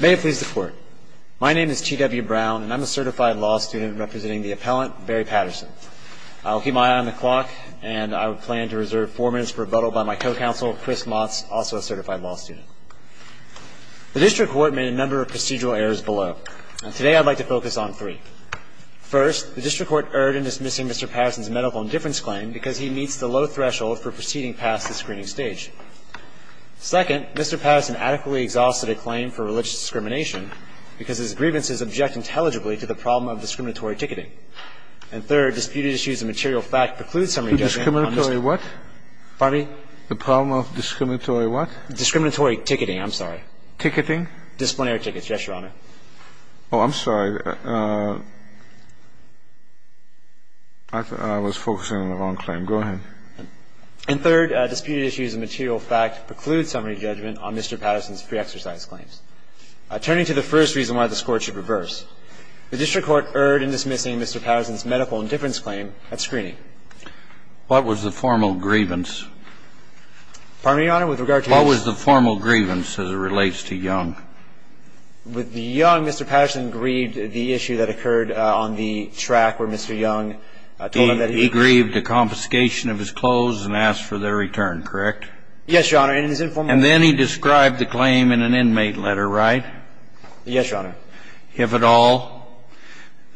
May it please the court. My name is T.W. Brown, and I'm a certified law student representing the appellant, Barry Patterson. I'll keep my eye on the clock, and I plan to reserve four minutes for rebuttal by my co-counsel, Chris Motts, also a certified law student. The district court made a number of procedural errors below, and today I'd like to focus on three. First, the district court erred in dismissing Mr. Patterson's medical indifference claim because he meets the low threshold for proceeding past the screening stage. Second, Mr. Patterson adequately exhausted a claim for religious discrimination because his grievances object intelligibly to the problem of discriminatory ticketing. And third, disputed issues of material fact preclude summary judgment on Mr. Patterson. Discriminatory what? Pardon me? The problem of discriminatory what? Discriminatory ticketing, I'm sorry. Ticketing? Disciplinary tickets, yes, Your Honor. Oh, I'm sorry. I was focusing on the wrong claim. Go ahead. And third, disputed issues of material fact preclude summary judgment on Mr. Patterson's pre-exercise claims. Turning to the first reason why this Court should reverse, the district court erred in dismissing Mr. Patterson's medical indifference claim at screening. What was the formal grievance? Pardon me, Your Honor, with regard to Mr. Patterson? What was the formal grievance as it relates to Young? With the Young, Mr. Patterson grieved the issue that occurred on the track where Mr. Young told him that he was. He grieved the confiscation of his clothes and asked for their return, correct? Yes, Your Honor. And then he described the claim in an inmate letter, right? Yes, Your Honor. If at all,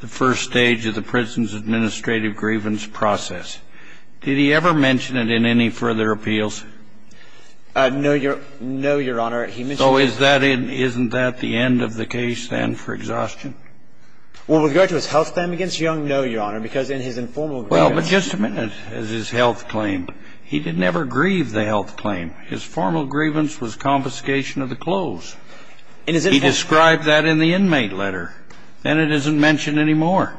the first stage of the prison's administrative grievance process. Did he ever mention it in any further appeals? No, Your Honor. He mentioned it. So isn't that the end of the case then for exhaustion? With regard to his health claim against Young, no, Your Honor, because in his informal grievance. Well, but just a minute as his health claim. He did never grieve the health claim. His formal grievance was confiscation of the clothes. He described that in the inmate letter. Then it isn't mentioned anymore.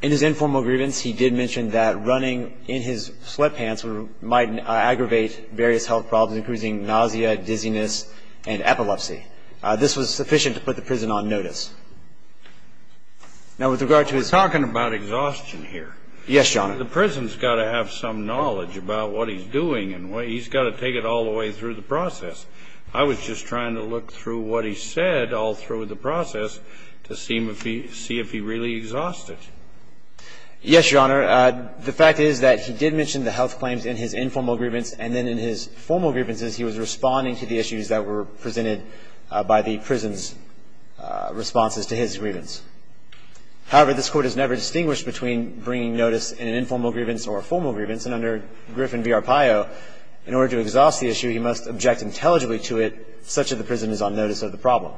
In his informal grievance, he did mention that running in his sweatpants might aggravate various health problems, including nausea, dizziness, and epilepsy. This was sufficient to put the prison on notice. Now, with regard to his... Yes, Your Honor. The prison's got to have some knowledge about what he's doing, and he's got to take it all the way through the process. I was just trying to look through what he said all through the process to see if he really exhausted. Yes, Your Honor. The fact is that he did mention the health claims in his informal grievance, and then in his formal grievances he was responding to the issues that were presented by the prison's responses to his grievance. However, this Court has never distinguished between bringing notice in an informal grievance or a formal grievance, and under Griffin v. Arpaio, in order to exhaust the issue, he must object intelligibly to it such that the prison is on notice of the problem.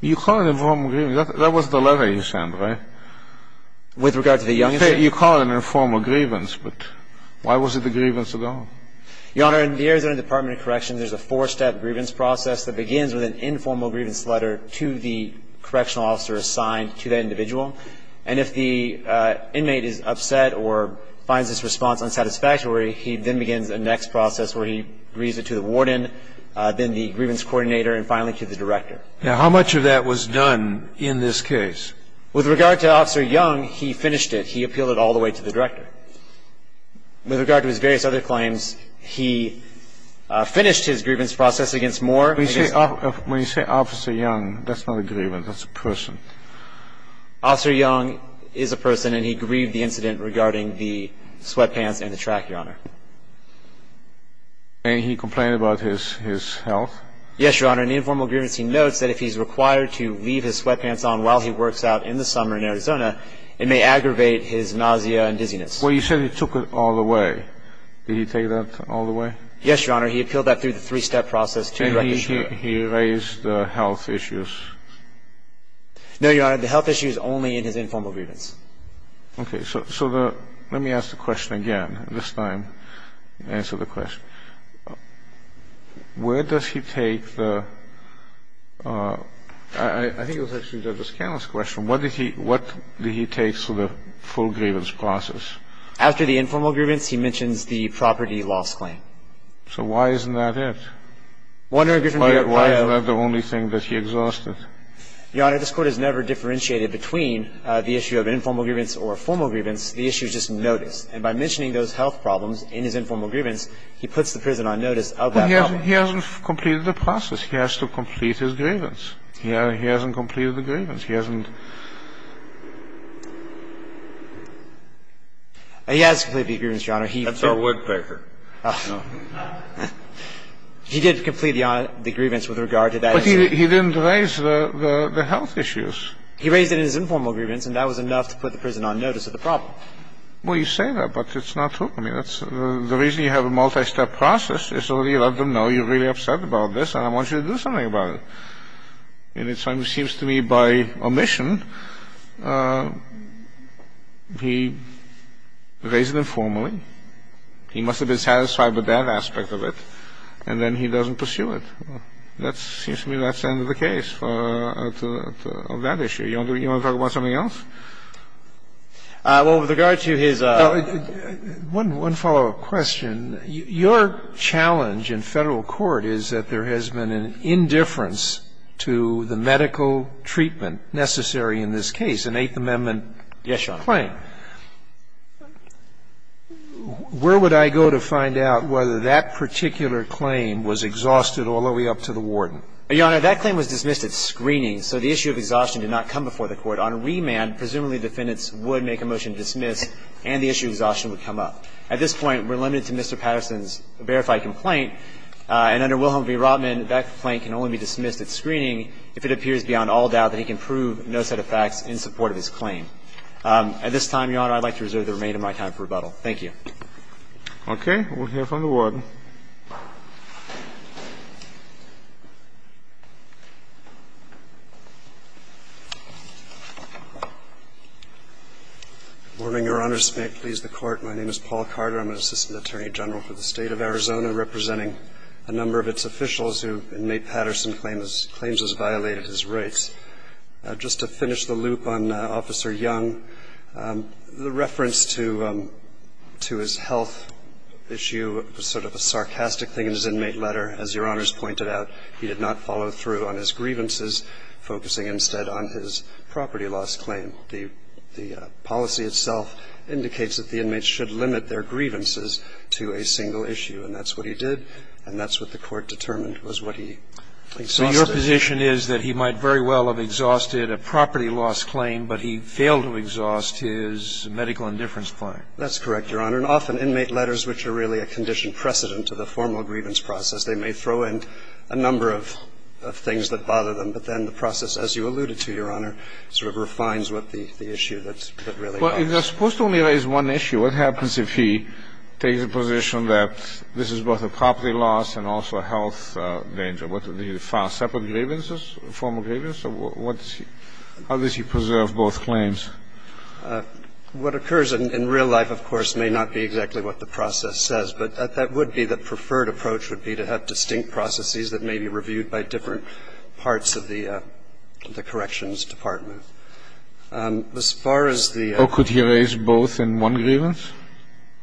You call it an informal grievance. That was the letter he sent, right? With regard to the youngest... You call it an informal grievance, but why was it a grievance at all? Your Honor, in the Arizona Department of Corrections, there's a four-step grievance process that begins with an informal grievance letter to the correctional officer assigned to that individual. And if the inmate is upset or finds this response unsatisfactory, he then begins the next process where he reads it to the warden, then the grievance coordinator, and finally to the director. Now, how much of that was done in this case? With regard to Officer Young, he finished it. He appealed it all the way to the director. With regard to his various other claims, he finished his grievance process against Moore... When you say Officer Young, that's not a grievance. That's a person. Officer Young is a person, and he grieved the incident regarding the sweatpants and the track, Your Honor. And he complained about his health? Yes, Your Honor. In the informal grievance, he notes that if he's required to leave his sweatpants on while he works out in the summer in Arizona, it may aggravate his nausea and dizziness. Well, you said he took it all the way. Did he take that all the way? Yes, Your Honor. He appealed that through the three-step process to the director. And he raised health issues? No, Your Honor. The health issue is only in his informal grievance. Okay. So let me ask the question again. This time, answer the question. Where does he take the – I think it was actually Judge O'Scanlon's question. What did he take through the full grievance process? After the informal grievance, he mentions the property loss claim. So why isn't that it? Why is that the only thing that he exhausted? Your Honor, this Court has never differentiated between the issue of informal grievance or formal grievance. The issue is just notice. And by mentioning those health problems in his informal grievance, he puts the prison on notice of that problem. But he hasn't completed the process. He has to complete his grievance. He hasn't completed the grievance. He hasn't. He has completed the grievance, Your Honor. That's our woodpecker. He did complete the grievance with regard to that issue. But he didn't raise the health issues. He raised it in his informal grievance, and that was enough to put the prison on notice of the problem. Well, you say that, but it's not true. I mean, the reason you have a multi-step process is so that you let them know you're really upset about this, and I want you to do something about it. And it seems to me by omission, he raised it informally. He must have been satisfied with that aspect of it. And then he doesn't pursue it. That seems to me that's the end of the case for that issue. You want to talk about something else? Well, with regard to his ---- One follow-up question. Your challenge in Federal court is that there has been an indifference to the medical treatment necessary in this case, an Eighth Amendment claim. Yes, Your Honor. Where would I go to find out whether that particular claim was exhausted all the way up to the warden? Your Honor, that claim was dismissed at screening, so the issue of exhaustion did not come before the Court. On remand, presumably defendants would make a motion to dismiss and the issue of exhaustion would come up. At this point, we're limited to Mr. Patterson's verified complaint. And under Wilhelm v. Rotman, that complaint can only be dismissed at screening if it appears beyond all doubt that he can prove no set of facts in support of his claim. At this time, Your Honor, I'd like to reserve the remainder of my time for rebuttal. Thank you. Okay. We'll hear from the warden. Good morning, Your Honors. May it please the Court. My name is Paul Carter. I'm an Assistant Attorney General for the State of Arizona, representing a number of its officials who, in May Patterson's claims, has violated his rights. Just to finish the loop on Officer Young, the reference to his health issue was sort of a side note. I think there's a lot of sarcastic things in his inmate letter. As Your Honors pointed out, he did not follow through on his grievances, focusing instead on his property loss claim. The policy itself indicates that the inmates should limit their grievances to a single issue, and that's what he did, and that's what the Court determined was what he exhausted. So your position is that he might very well have exhausted a property loss claim, but he failed to exhaust his medical indifference claim. That's correct, Your Honor. There are often inmate letters which are really a conditioned precedent to the formal grievance process. They may throw in a number of things that bother them, but then the process, as you alluded to, Your Honor, sort of refines what the issue that really bothers. Well, they're supposed to only raise one issue. What happens if he takes a position that this is both a property loss and also a health danger? Would he file separate grievances, formal grievances? How does he preserve both claims? What occurs in real life, of course, may not be exactly what the process says, but that would be the preferred approach would be to have distinct processes that may be reviewed by different parts of the Corrections Department. As far as the ---- Or could he raise both in one grievance?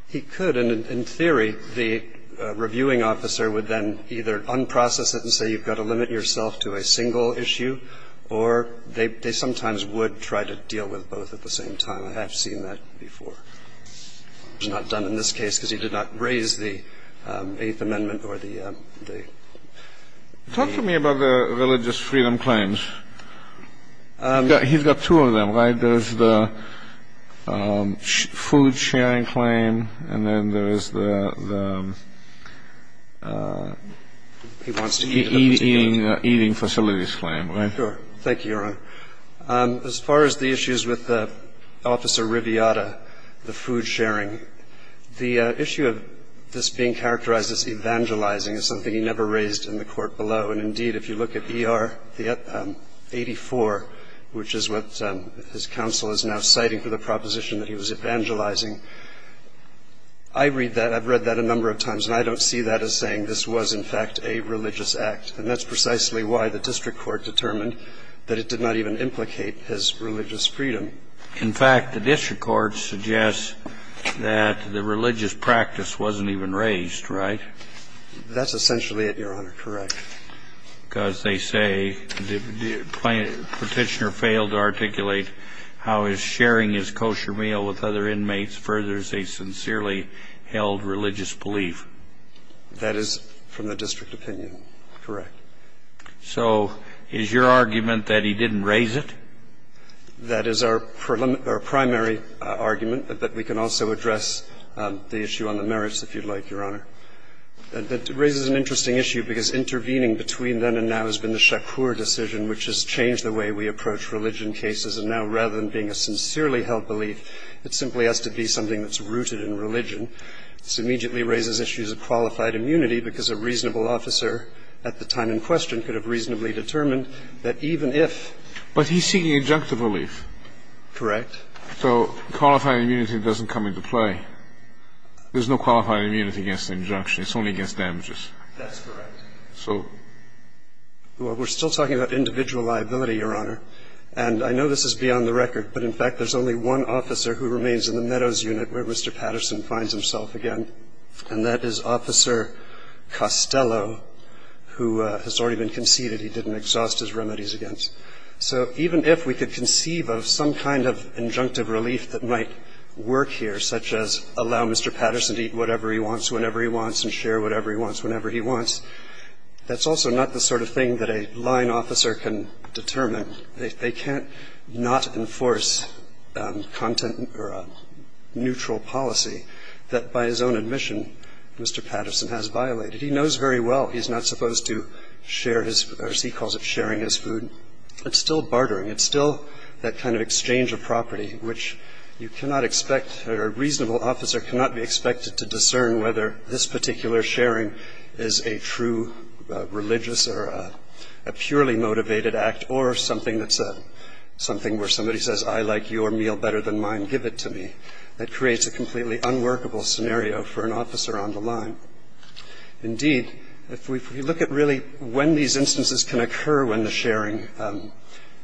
He could. And in theory, the reviewing officer would then either unprocess it and say you've got to limit yourself to a single issue, or they sometimes would try to deal with both at the same time. I have seen that before. It was not done in this case because he did not raise the Eighth Amendment or the ---- Talk to me about the religious freedom claims. He's got two of them, right? There's the food sharing claim and then there is the eating facilities claim, right? Sure. Thank you, Your Honor. As far as the issues with Officer Riviata, the food sharing, the issue of this being characterized as evangelizing is something he never raised in the court below. And indeed, if you look at ER 84, which is what his counsel is now citing for the proposition that he was evangelizing, I read that. I've read that a number of times, and I don't see that as saying this was, in fact, a religious act. And that's precisely why the district court determined that it did not even implicate his religious freedom. In fact, the district court suggests that the religious practice wasn't even raised, right? That's essentially it, Your Honor. Correct. Because they say the petitioner failed to articulate how his sharing his kosher meal with other inmates furthers a sincerely held religious belief. That is from the district opinion. Correct. So is your argument that he didn't raise it? That is our primary argument, but we can also address the issue on the merits, if you'd like, Your Honor. It raises an interesting issue, because intervening between then and now has been the Shakur decision, which has changed the way we approach religion cases, and now rather than being a sincerely held belief, it simply has to be something that's rooted in religion. It's a reasonable question. This immediately raises issues of qualified immunity, because a reasonable officer at the time in question could have reasonably determined that even if he was seeking injunctive relief. Correct. So qualified immunity doesn't come into play. There's no qualified immunity against injunction. It's only against damages. That's correct. Well, we're still talking about individual liability, Your Honor. And I know this is beyond the record, but in fact there's only one officer who remains in the Meadows unit where Mr. Patterson finds himself again, and that is Officer Costello, who has already been conceded he didn't exhaust his remedies against. So even if we could conceive of some kind of injunctive relief that might work here, such as allow Mr. Patterson to eat whatever he wants, whenever he wants, and share whatever he wants, whenever he wants, that's also not the sort of thing that a line officer can determine. They can't not enforce content or a neutral policy that, by his own admission, Mr. Patterson has violated. He knows very well he's not supposed to share his, as he calls it, sharing his food. It's still bartering. It's still that kind of exchange of property, which you cannot expect or a reasonable officer cannot be expected to discern whether this particular sharing is a true religious or a purely motivated act or something that's a, something where somebody says, I like your meal better than mine. Give it to me. That creates a completely unworkable scenario for an officer on the line. Indeed, if we look at really when these instances can occur when the sharing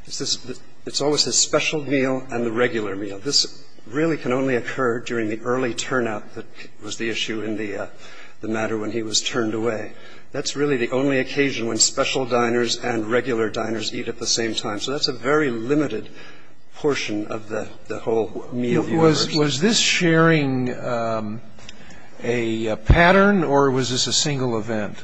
is this, it's always his special meal and the regular meal. And this really can only occur during the early turnout that was the issue in the matter when he was turned away. That's really the only occasion when special diners and regular diners eat at the same time. So that's a very limited portion of the whole meal. Was this sharing a pattern or was this a single event?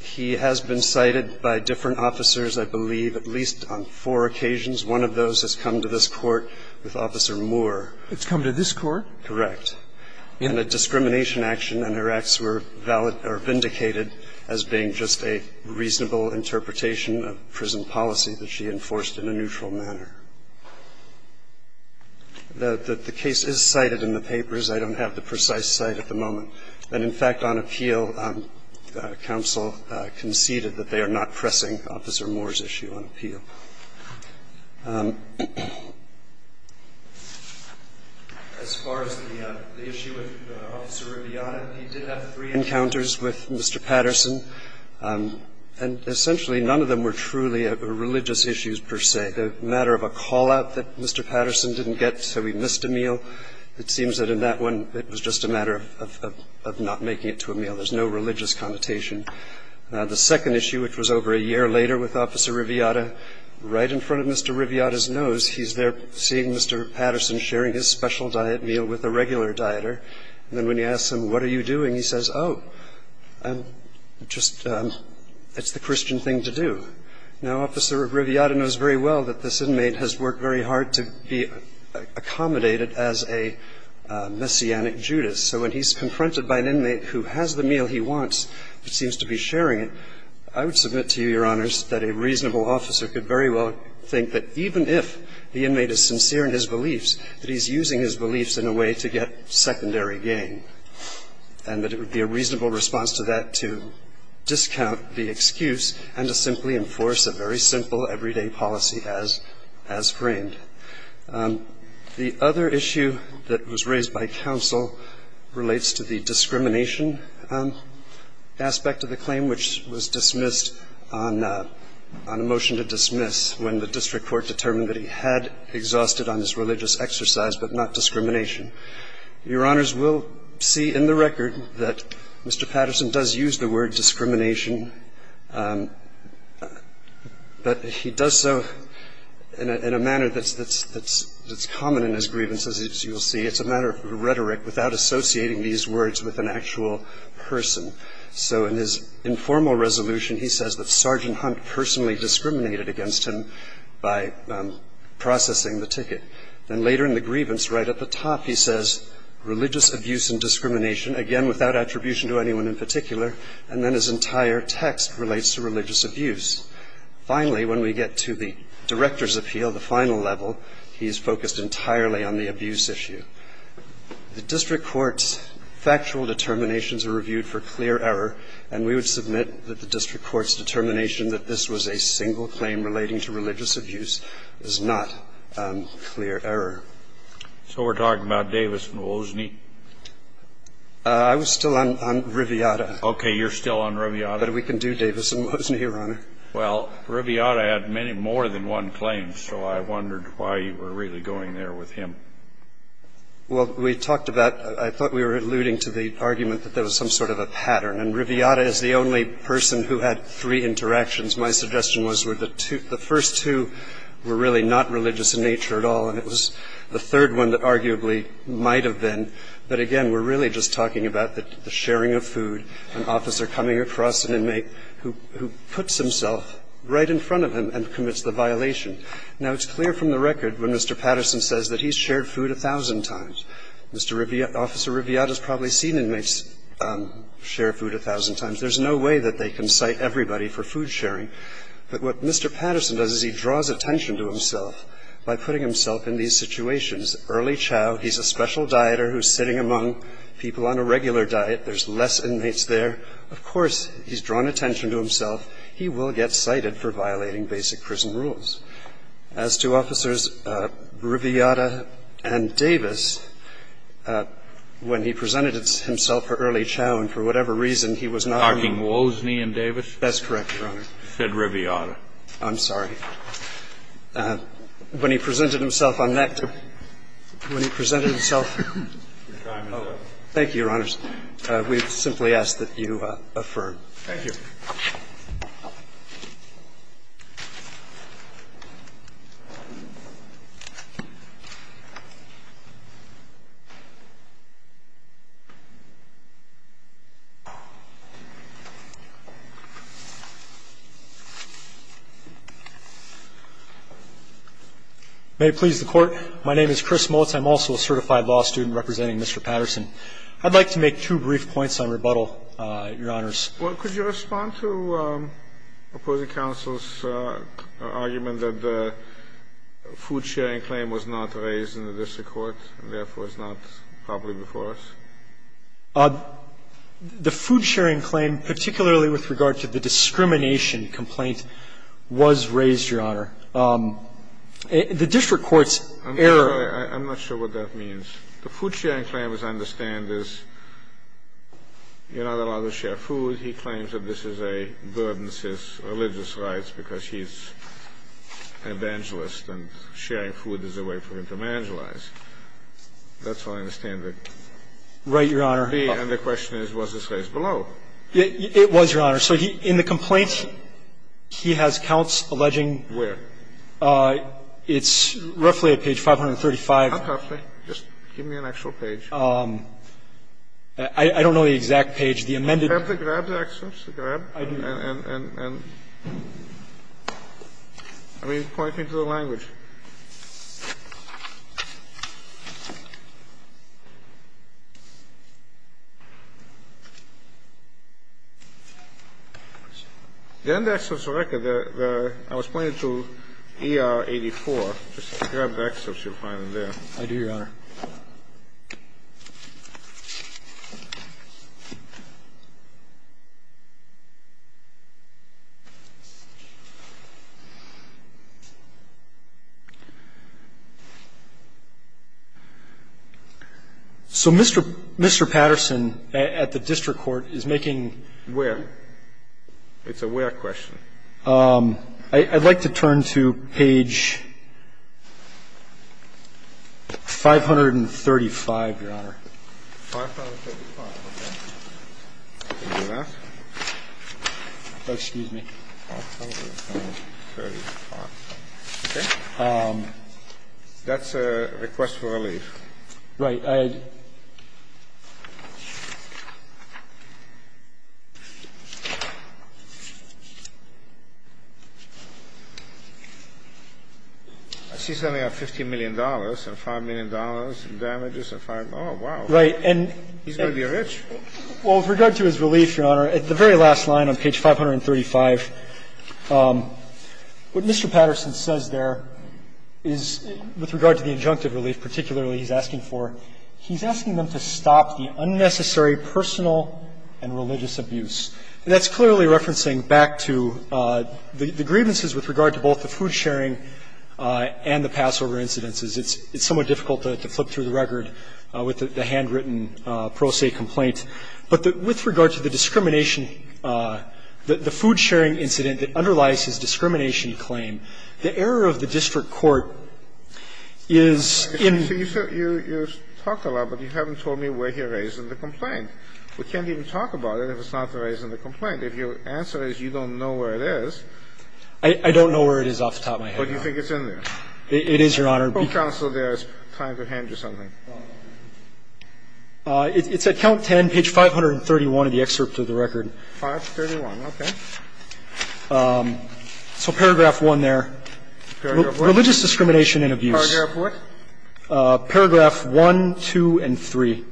He has been cited by different officers, I believe, at least on four occasions. One of those has come to this Court with Officer Moore. It's come to this Court? Correct. And a discrimination action and her acts were valid or vindicated as being just a reasonable interpretation of prison policy that she enforced in a neutral manner. The case is cited in the papers. I don't have the precise cite at the moment. And, in fact, on appeal, counsel conceded that they are not pressing Officer Moore's issue on appeal. As far as the issue with Officer Riviata, he did have three encounters with Mr. Patterson, and essentially none of them were truly religious issues per se. The matter of a call-out that Mr. Patterson didn't get so he missed a meal, it seems that in that one it was just a matter of not making it to a meal. There's no religious connotation. Now, the second issue, which was over a year later with Officer Riviata, right in front of Mr. Riviata's nose, he's there seeing Mr. Patterson sharing his special diet meal with a regular dieter. And then when he asks him, what are you doing? He says, oh, I'm just, it's the Christian thing to do. Now, Officer Riviata knows very well that this inmate has worked very hard to be accommodated as a Messianic Judas. So when he's confronted by an inmate who has the meal he wants but seems to be sharing it, I would submit to you, Your Honors, that a reasonable officer could very well think that even if the inmate is sincere in his beliefs, that he's using his beliefs in a way to get secondary gain, and that it would be a reasonable response to that to discount the excuse and to simply enforce a very simple everyday policy as framed. The other issue that was raised by counsel relates to the discrimination aspect of the claim, which was dismissed on a motion to dismiss when the district court determined that he had exhausted on his religious exercise but not discrimination. Your Honors, we'll see in the record that Mr. Patterson does use the word discrimination, which is a phrase that's common in his grievances, as you will see. It's a matter of rhetoric without associating these words with an actual person. So in his informal resolution, he says that Sergeant Hunt personally discriminated against him by processing the ticket. Then later in the grievance, right at the top, he says, religious abuse and discrimination, again without attribution to anyone in particular. And then his entire text relates to religious abuse. Finally, when we get to the director's appeal, the final level, he's focused entirely on the abuse issue. The district court's factual determinations are reviewed for clear error, and we would submit that the district court's determination that this was a single claim relating to religious abuse is not clear error. So we're talking about Davis and Wozni? I was still on Riviata. Okay. But we can do Davis and Wozni, Your Honor. Well, Riviata had many more than one claim, so I wondered why you were really going there with him. Well, we talked about, I thought we were alluding to the argument that there was some sort of a pattern. And Riviata is the only person who had three interactions. My suggestion was the first two were really not religious in nature at all, and it was the third one that arguably might have been. But again, we're really just talking about the sharing of food, an officer coming across an inmate who puts himself right in front of him and commits the violation. Now, it's clear from the record when Mr. Patterson says that he's shared food a thousand times. Mr. Riviata, Officer Riviata has probably seen inmates share food a thousand times. There's no way that they can cite everybody for food sharing. But what Mr. Patterson does is he draws attention to himself by putting himself in these situations. Early chow, he's a special dieter who's sitting among people on a regular diet. There's less inmates there. Of course, he's drawn attention to himself. He will get cited for violating basic prison rules. As to Officers Riviata and Davis, when he presented himself for early chow and for whatever reason he was not. Knocking Wozni and Davis? That's correct, Your Honor. He said Riviata. I'm sorry. When he presented himself on that group, when he presented himself. Thank you, Your Honors. We simply ask that you affirm. Thank you. May it please the Court. My name is Chris Mullitz. I'm also a certified law student representing Mr. Patterson. I'd like to make two brief points on rebuttal, Your Honors. Well, could you respond to opposing counsel's argument that the food sharing claim was not raised in the district court and therefore is not properly before us? The food sharing claim, particularly with regard to the discrimination complaint, was raised, Your Honor. The district court's error. I'm not sure what that means. The food sharing claim, as I understand, is you're not allowed to share food. He claims that this is a burdensome religious right because he's an evangelist and sharing food is a way for him to evangelize. That's how I understand it. Right, Your Honor. And the question is, was this raised below? It was, Your Honor. So in the complaint, he has counts alleging. Where? It's roughly at page 535. I don't know the exact page. Just give me an actual page. I don't know the exact page. The amended. Grab the excerpts. I do. I mean, point me to the language. The end excerpts of the record that I was pointing to, ER 84, just grab the excerpts that you're finding there. I do, Your Honor. So Mr. Patterson at the district court is making. Where? It's a where question. I'd like to turn to page 535, Your Honor. 535. Okay. Excuse me. 535. Okay. That's a request for relief. Right. I see something like $50 million and $5 million in damages. Oh, wow. Right. He's going to be rich. Well, with regard to his relief, Your Honor, at the very last line on page 535, what Mr. Patterson says there is, with regard to the injunctive relief, particularly he's asking for, he's asking them to stop the unnecessary personal and religious abuse. And that's clearly referencing back to the grievances with regard to both the food sharing and the Passover incidences. It's somewhat difficult to flip through the record with the handwritten pro se complaint. But with regard to the discrimination, the food sharing incident that underlies his discrimination claim, the error of the district court is in. So you've talked a lot, but you haven't told me where he raised the complaint. We can't even talk about it if it's not raised in the complaint. If your answer is you don't know where it is. I don't know where it is off the top of my head, Your Honor. But you think it's in there. It is, Your Honor. Go counsel there. It's time to hand you something. It's at count 10, page 531 of the excerpt of the record. 531. Okay. So paragraph 1 there, religious discrimination and abuse. Paragraph what? Paragraph 1, 2, and 3.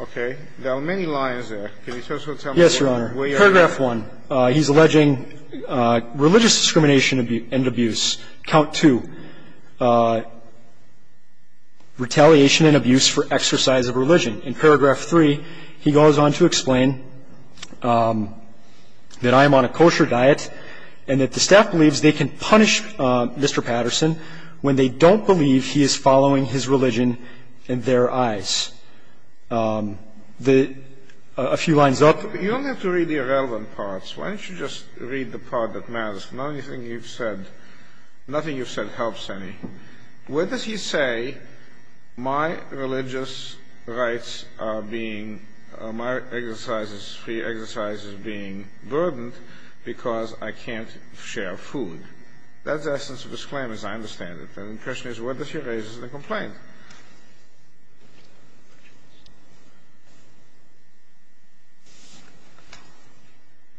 Okay. There are many lines there. Can you also tell me where you're at? Yes, Your Honor. Paragraph 1. He's alleging religious discrimination and abuse. Count 2. Retaliation and abuse for exercise of religion. In paragraph 3, he goes on to explain that I am on a kosher diet and that the staff believes they can punish Mr. Patterson when they don't believe he is following his religion in their eyes. A few lines up. You don't have to read the irrelevant parts. Why don't you just read the part that matters? Not anything you've said, nothing you've said helps any. What does he say? My religious rights are being, my exercises, free exercises being burdened because I can't share food. That's the essence of his claim, as I understand it. And the question is, what does he raise as a complaint?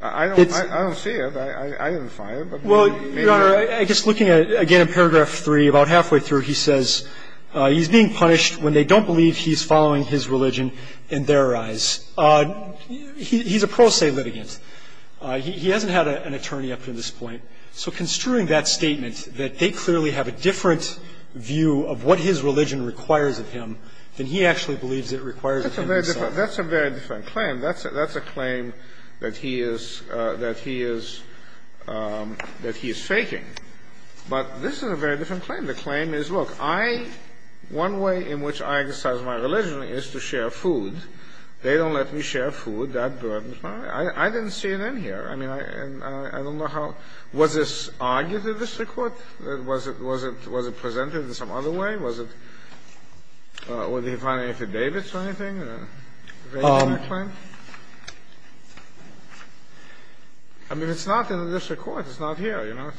I don't see it. I didn't find it. Well, Your Honor, I guess looking again at paragraph 3, about halfway through, he says he's being punished when they don't believe he's following his religion in their eyes. He's a pro se litigant. He hasn't had an attorney up to this point. So construing that statement, that they clearly have a different view of what his religion requires of him than he actually believes it requires of him himself. That's a very different claim. That's a claim that he is faking. But this is a very different claim. The claim is, look, one way in which I exercise my religion is to share food. They don't let me share food. That burdens me. I didn't see it in here. I mean, I don't know how. Was this argued in the district court? Was it presented in some other way? Was it an affidavit or anything? I mean, it's not in the district court. It's not here, you know.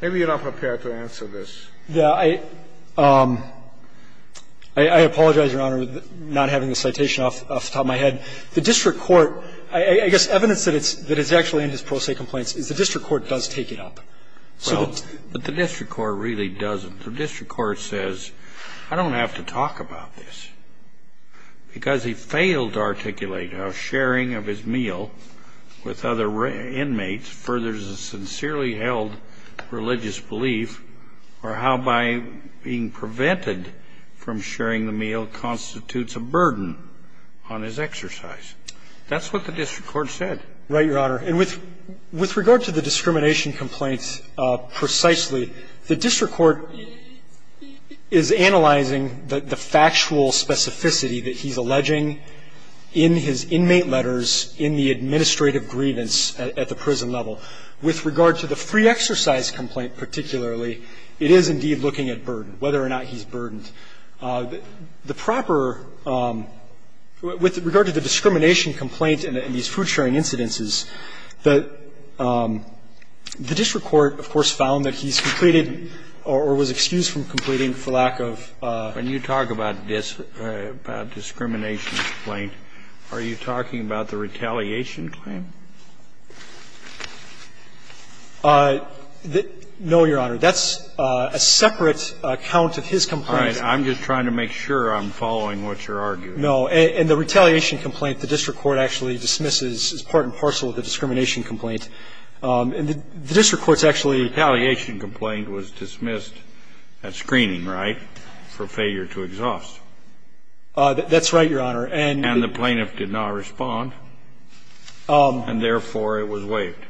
Maybe you're not prepared to answer this. I apologize, Your Honor, not having the citation off the top of my head. The district court, I guess evidence that it's actually in his pro se complaints is the district court does take it up. So the district court really doesn't. The district court says I don't have to talk about this because he failed to articulate how sharing of his meal with other inmates furthers a sincerely held religious belief or how by being prevented from sharing the meal constitutes a burden on his exercise. That's what the district court said. Right, Your Honor. And with regard to the discrimination complaints precisely, the district court is analyzing the factual specificity that he's alleging in his inmate letters, in the administrative grievance at the prison level. With regard to the free exercise complaint particularly, it is indeed looking at burden, whether or not he's burdened. The proper – with regard to the discrimination complaint and these food-sharing incidences, the district court, of course, found that he's completed or was excused from completing for lack of. When you talk about discrimination complaint, are you talking about the retaliation claim? No, Your Honor. That's a separate account of his complaint. All right. I'm just trying to make sure I'm following what you're arguing. No. And the retaliation complaint, the district court actually dismisses as part and parcel of the discrimination complaint. And the district court's actually – The retaliation complaint was dismissed at screening, right, for failure to exhaust. That's right, Your Honor. And the plaintiff did not respond. And therefore, it was waived.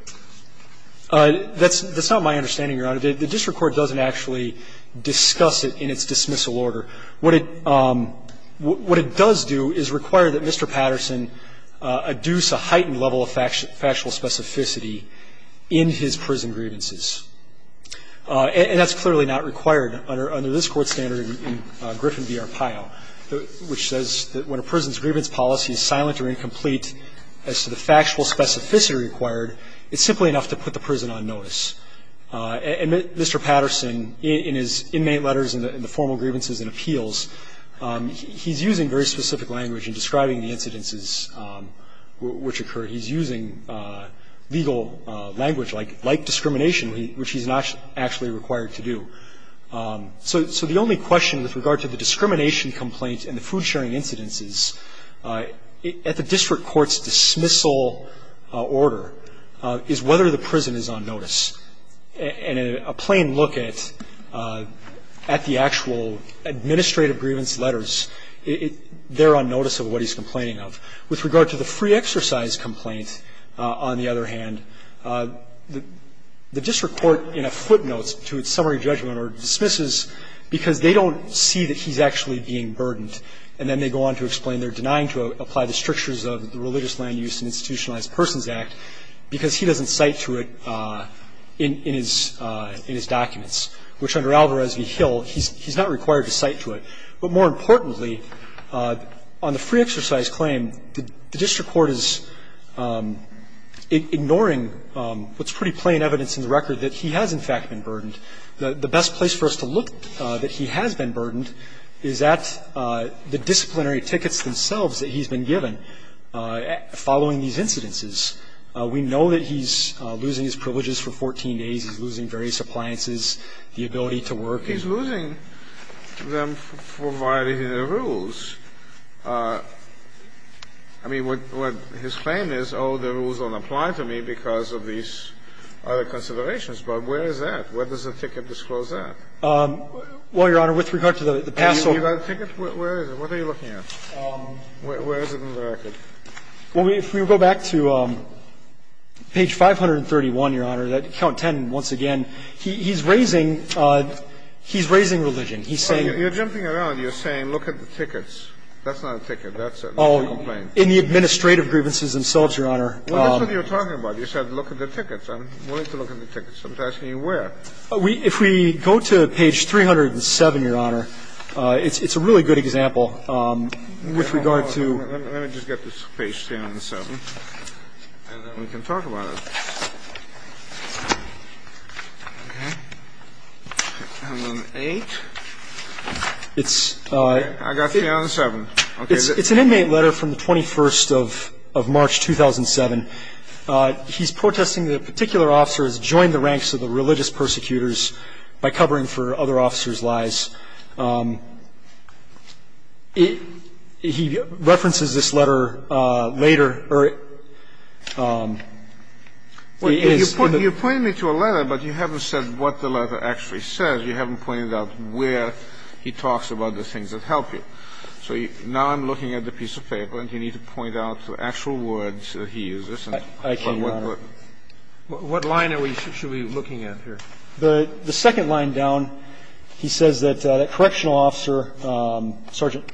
That's not my understanding, Your Honor. The district court doesn't actually discuss it in its dismissal order. What it does do is require that Mr. Patterson adduce a heightened level of factual specificity in his prison grievances. And that's clearly not required under this Court's standard in Griffin v. Arpaio, which says that when a prison's grievance policy is silent or incomplete as to the factual specificity required, it's simply enough to put the prison on notice. And Mr. Patterson, in his inmate letters in the formal grievances and appeals, he's using very specific language in describing the incidences which occurred. He's using legal language like discrimination, which he's not actually required to do. So the only question with regard to the discrimination complaint and the food-sharing incidences at the district court's dismissal order is whether the prison is on notice. And a plain look at the actual administrative grievance letters, they're on notice of what he's complaining of. With regard to the free exercise complaint, on the other hand, the district court to its summary judgment or dismisses because they don't see that he's actually being burdened, and then they go on to explain they're denying to apply the strictures of the Religious Land Use and Institutionalized Persons Act because he doesn't cite to it in his documents, which under Alvarez v. Hill, he's not required to cite to it. But more importantly, on the free exercise claim, the district court is ignoring what's pretty plain evidence in the record that he has, in fact, been burdened. The best place for us to look that he has been burdened is at the disciplinary tickets themselves that he's been given following these incidences. We know that he's losing his privileges for 14 days. He's losing various appliances, the ability to work. He's losing them for violating the rules. I mean, what his claim is, oh, the rules don't apply to me because of these other considerations. But where is that? Where does the ticket disclose that? Well, Your Honor, with regard to the past sort of things. You got a ticket? Where is it? What are you looking at? Where is it in the record? Well, if we go back to page 531, Your Honor, that count 10 once again, he's raising religion. He's saying that. You're jumping around. You're saying look at the tickets. That's not a ticket. That's a complaint. Oh, in the administrative grievances themselves, Your Honor. Well, that's what you're talking about. You said look at the tickets. I'm willing to look at the tickets. I'm asking you where. If we go to page 307, Your Honor, it's a really good example with regard to. Let me just get to page 307, and then we can talk about it. Okay. And then 8. It's. It's an inmate letter from the 21st of March 2007. He's protesting that a particular officer has joined the ranks of the religious persecutors by covering for other officers' lies. He references this letter later. You're pointing me to a letter, but you haven't said what the letter actually says. You haven't pointed out where he talks about the things that help you. So now I'm looking at the piece of paper, and you need to point out the actual words that he uses. I can't, Your Honor. What line should we be looking at here? The second line down, he says that a correctional officer, Sergeant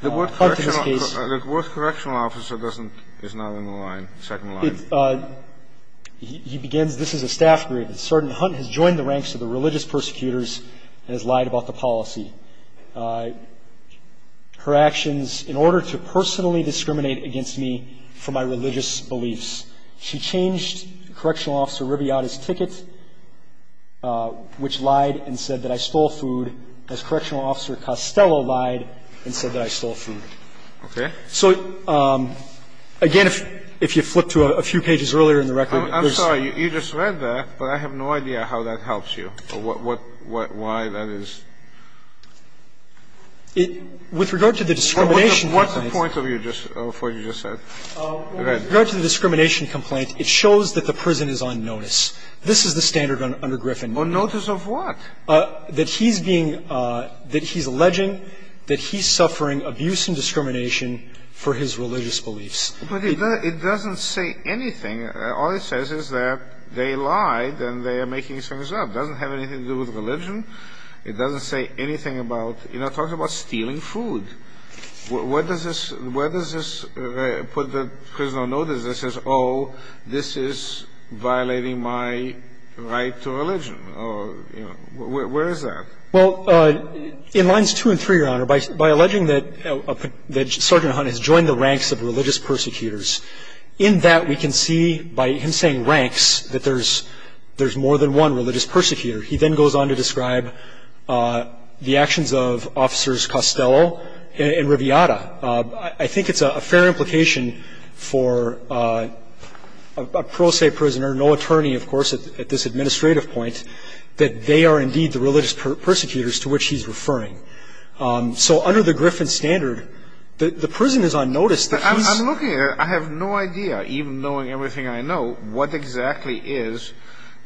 Hunt in this case. The word correctional officer doesn't, is not in the line, second line. He begins, this is a staff grade. Sergeant Hunt has joined the ranks of the religious persecutors and has lied about the policy. Her actions, in order to personally discriminate against me for my religious beliefs. She changed correctional officer Riviata's ticket, which lied and said that I stole food, as correctional officer Costello lied and said that I stole food. Okay. So, again, if you flip to a few pages earlier in the record, there's. You just read that, but I have no idea how that helps you or what, why that is. With regard to the discrimination complaint. What's the point of what you just said? With regard to the discrimination complaint, it shows that the prison is on notice. This is the standard under Griffin. On notice of what? That he's being, that he's alleging that he's suffering abuse and discrimination for his religious beliefs. But it doesn't say anything. All it says is that they lied and they are making things up. It doesn't have anything to do with religion. It doesn't say anything about, you know, it talks about stealing food. Where does this, where does this put the prisoner on notice that says, oh, this is violating my right to religion? Or, you know, where is that? Well, in lines two and three, Your Honor, by alleging that Sergeant Hunt has joined the ranks of religious persecutors, in that we can see, by him saying ranks, that there's more than one religious persecutor. He then goes on to describe the actions of Officers Costello and Riviera. I think it's a fair implication for a pro se prisoner, no attorney, of course, at this administrative point, that they are indeed the religious persecutors to which he's referring. So under the Griffin standard, the prison is on notice that he's... I'm looking at it. I have no idea, even knowing everything I know, what exactly is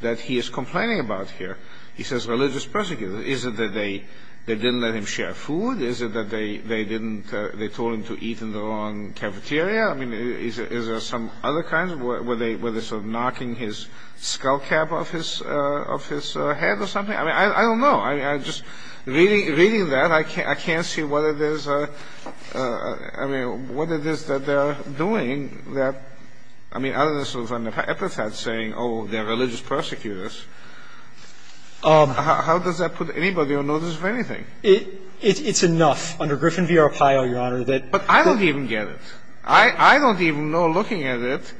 that he is complaining about here. He says religious persecutors. Is it that they didn't let him share food? Is it that they didn't, they told him to eat in the wrong cafeteria? I mean, is there some other kind? Were they sort of knocking his skullcap off his head or something? I mean, I don't know. I just, reading that, I can't see whether there's a, I mean, what it is that they're doing that, I mean, other than sort of an epithet saying, oh, they're religious persecutors. How does that put anybody on notice of anything? It's enough. Under Griffin v. Arpaio, Your Honor, that... But I don't even get it. I don't even know, looking at it,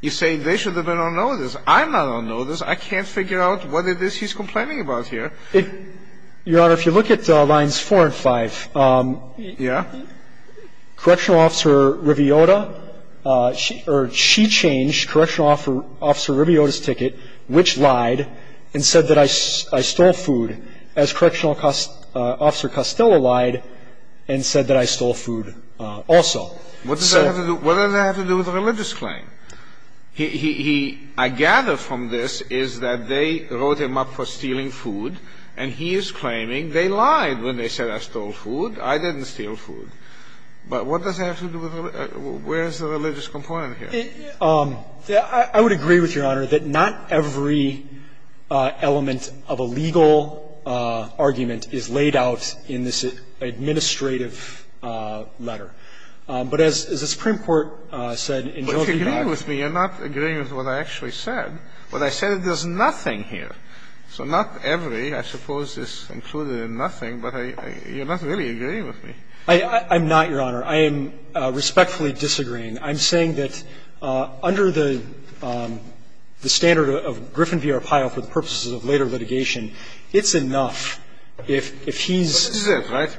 you say they should have been on notice. I'm not on notice. I can't figure out what it is he's complaining about here. Your Honor, if you look at lines 4 and 5... Yeah? Correctional officer Riviota, she changed correctional officer Riviota's ticket, which lied and said that I stole food, as correctional officer Costello lied and said that I stole food also. What does that have to do, what does that have to do with a religious claim? He, he, he, I gather from this is that they wrote him up for stealing food and he is claiming they lied when they said I stole food. I didn't steal food. But what does that have to do with, where is the religious component here? I would agree with Your Honor that not every element of a legal argument is laid out in this administrative letter. But as the Supreme Court said in... But you agree with me. You're not agreeing with what I actually said. What I said is there's nothing here. So not every, I suppose, is included in nothing, but you're not really agreeing with me. I'm not, Your Honor. I am respectfully disagreeing. I'm saying that under the standard of Griffin v. Arpaio for the purposes of later litigation, it's enough if he's... But this is it, right?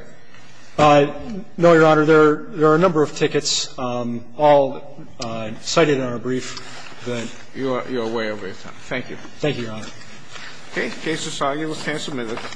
No, Your Honor. There are a number of tickets all cited in our brief that... You're way over your time. Thank you. Thank you, Your Honor. Okay. Case is argued. Let's have a minute.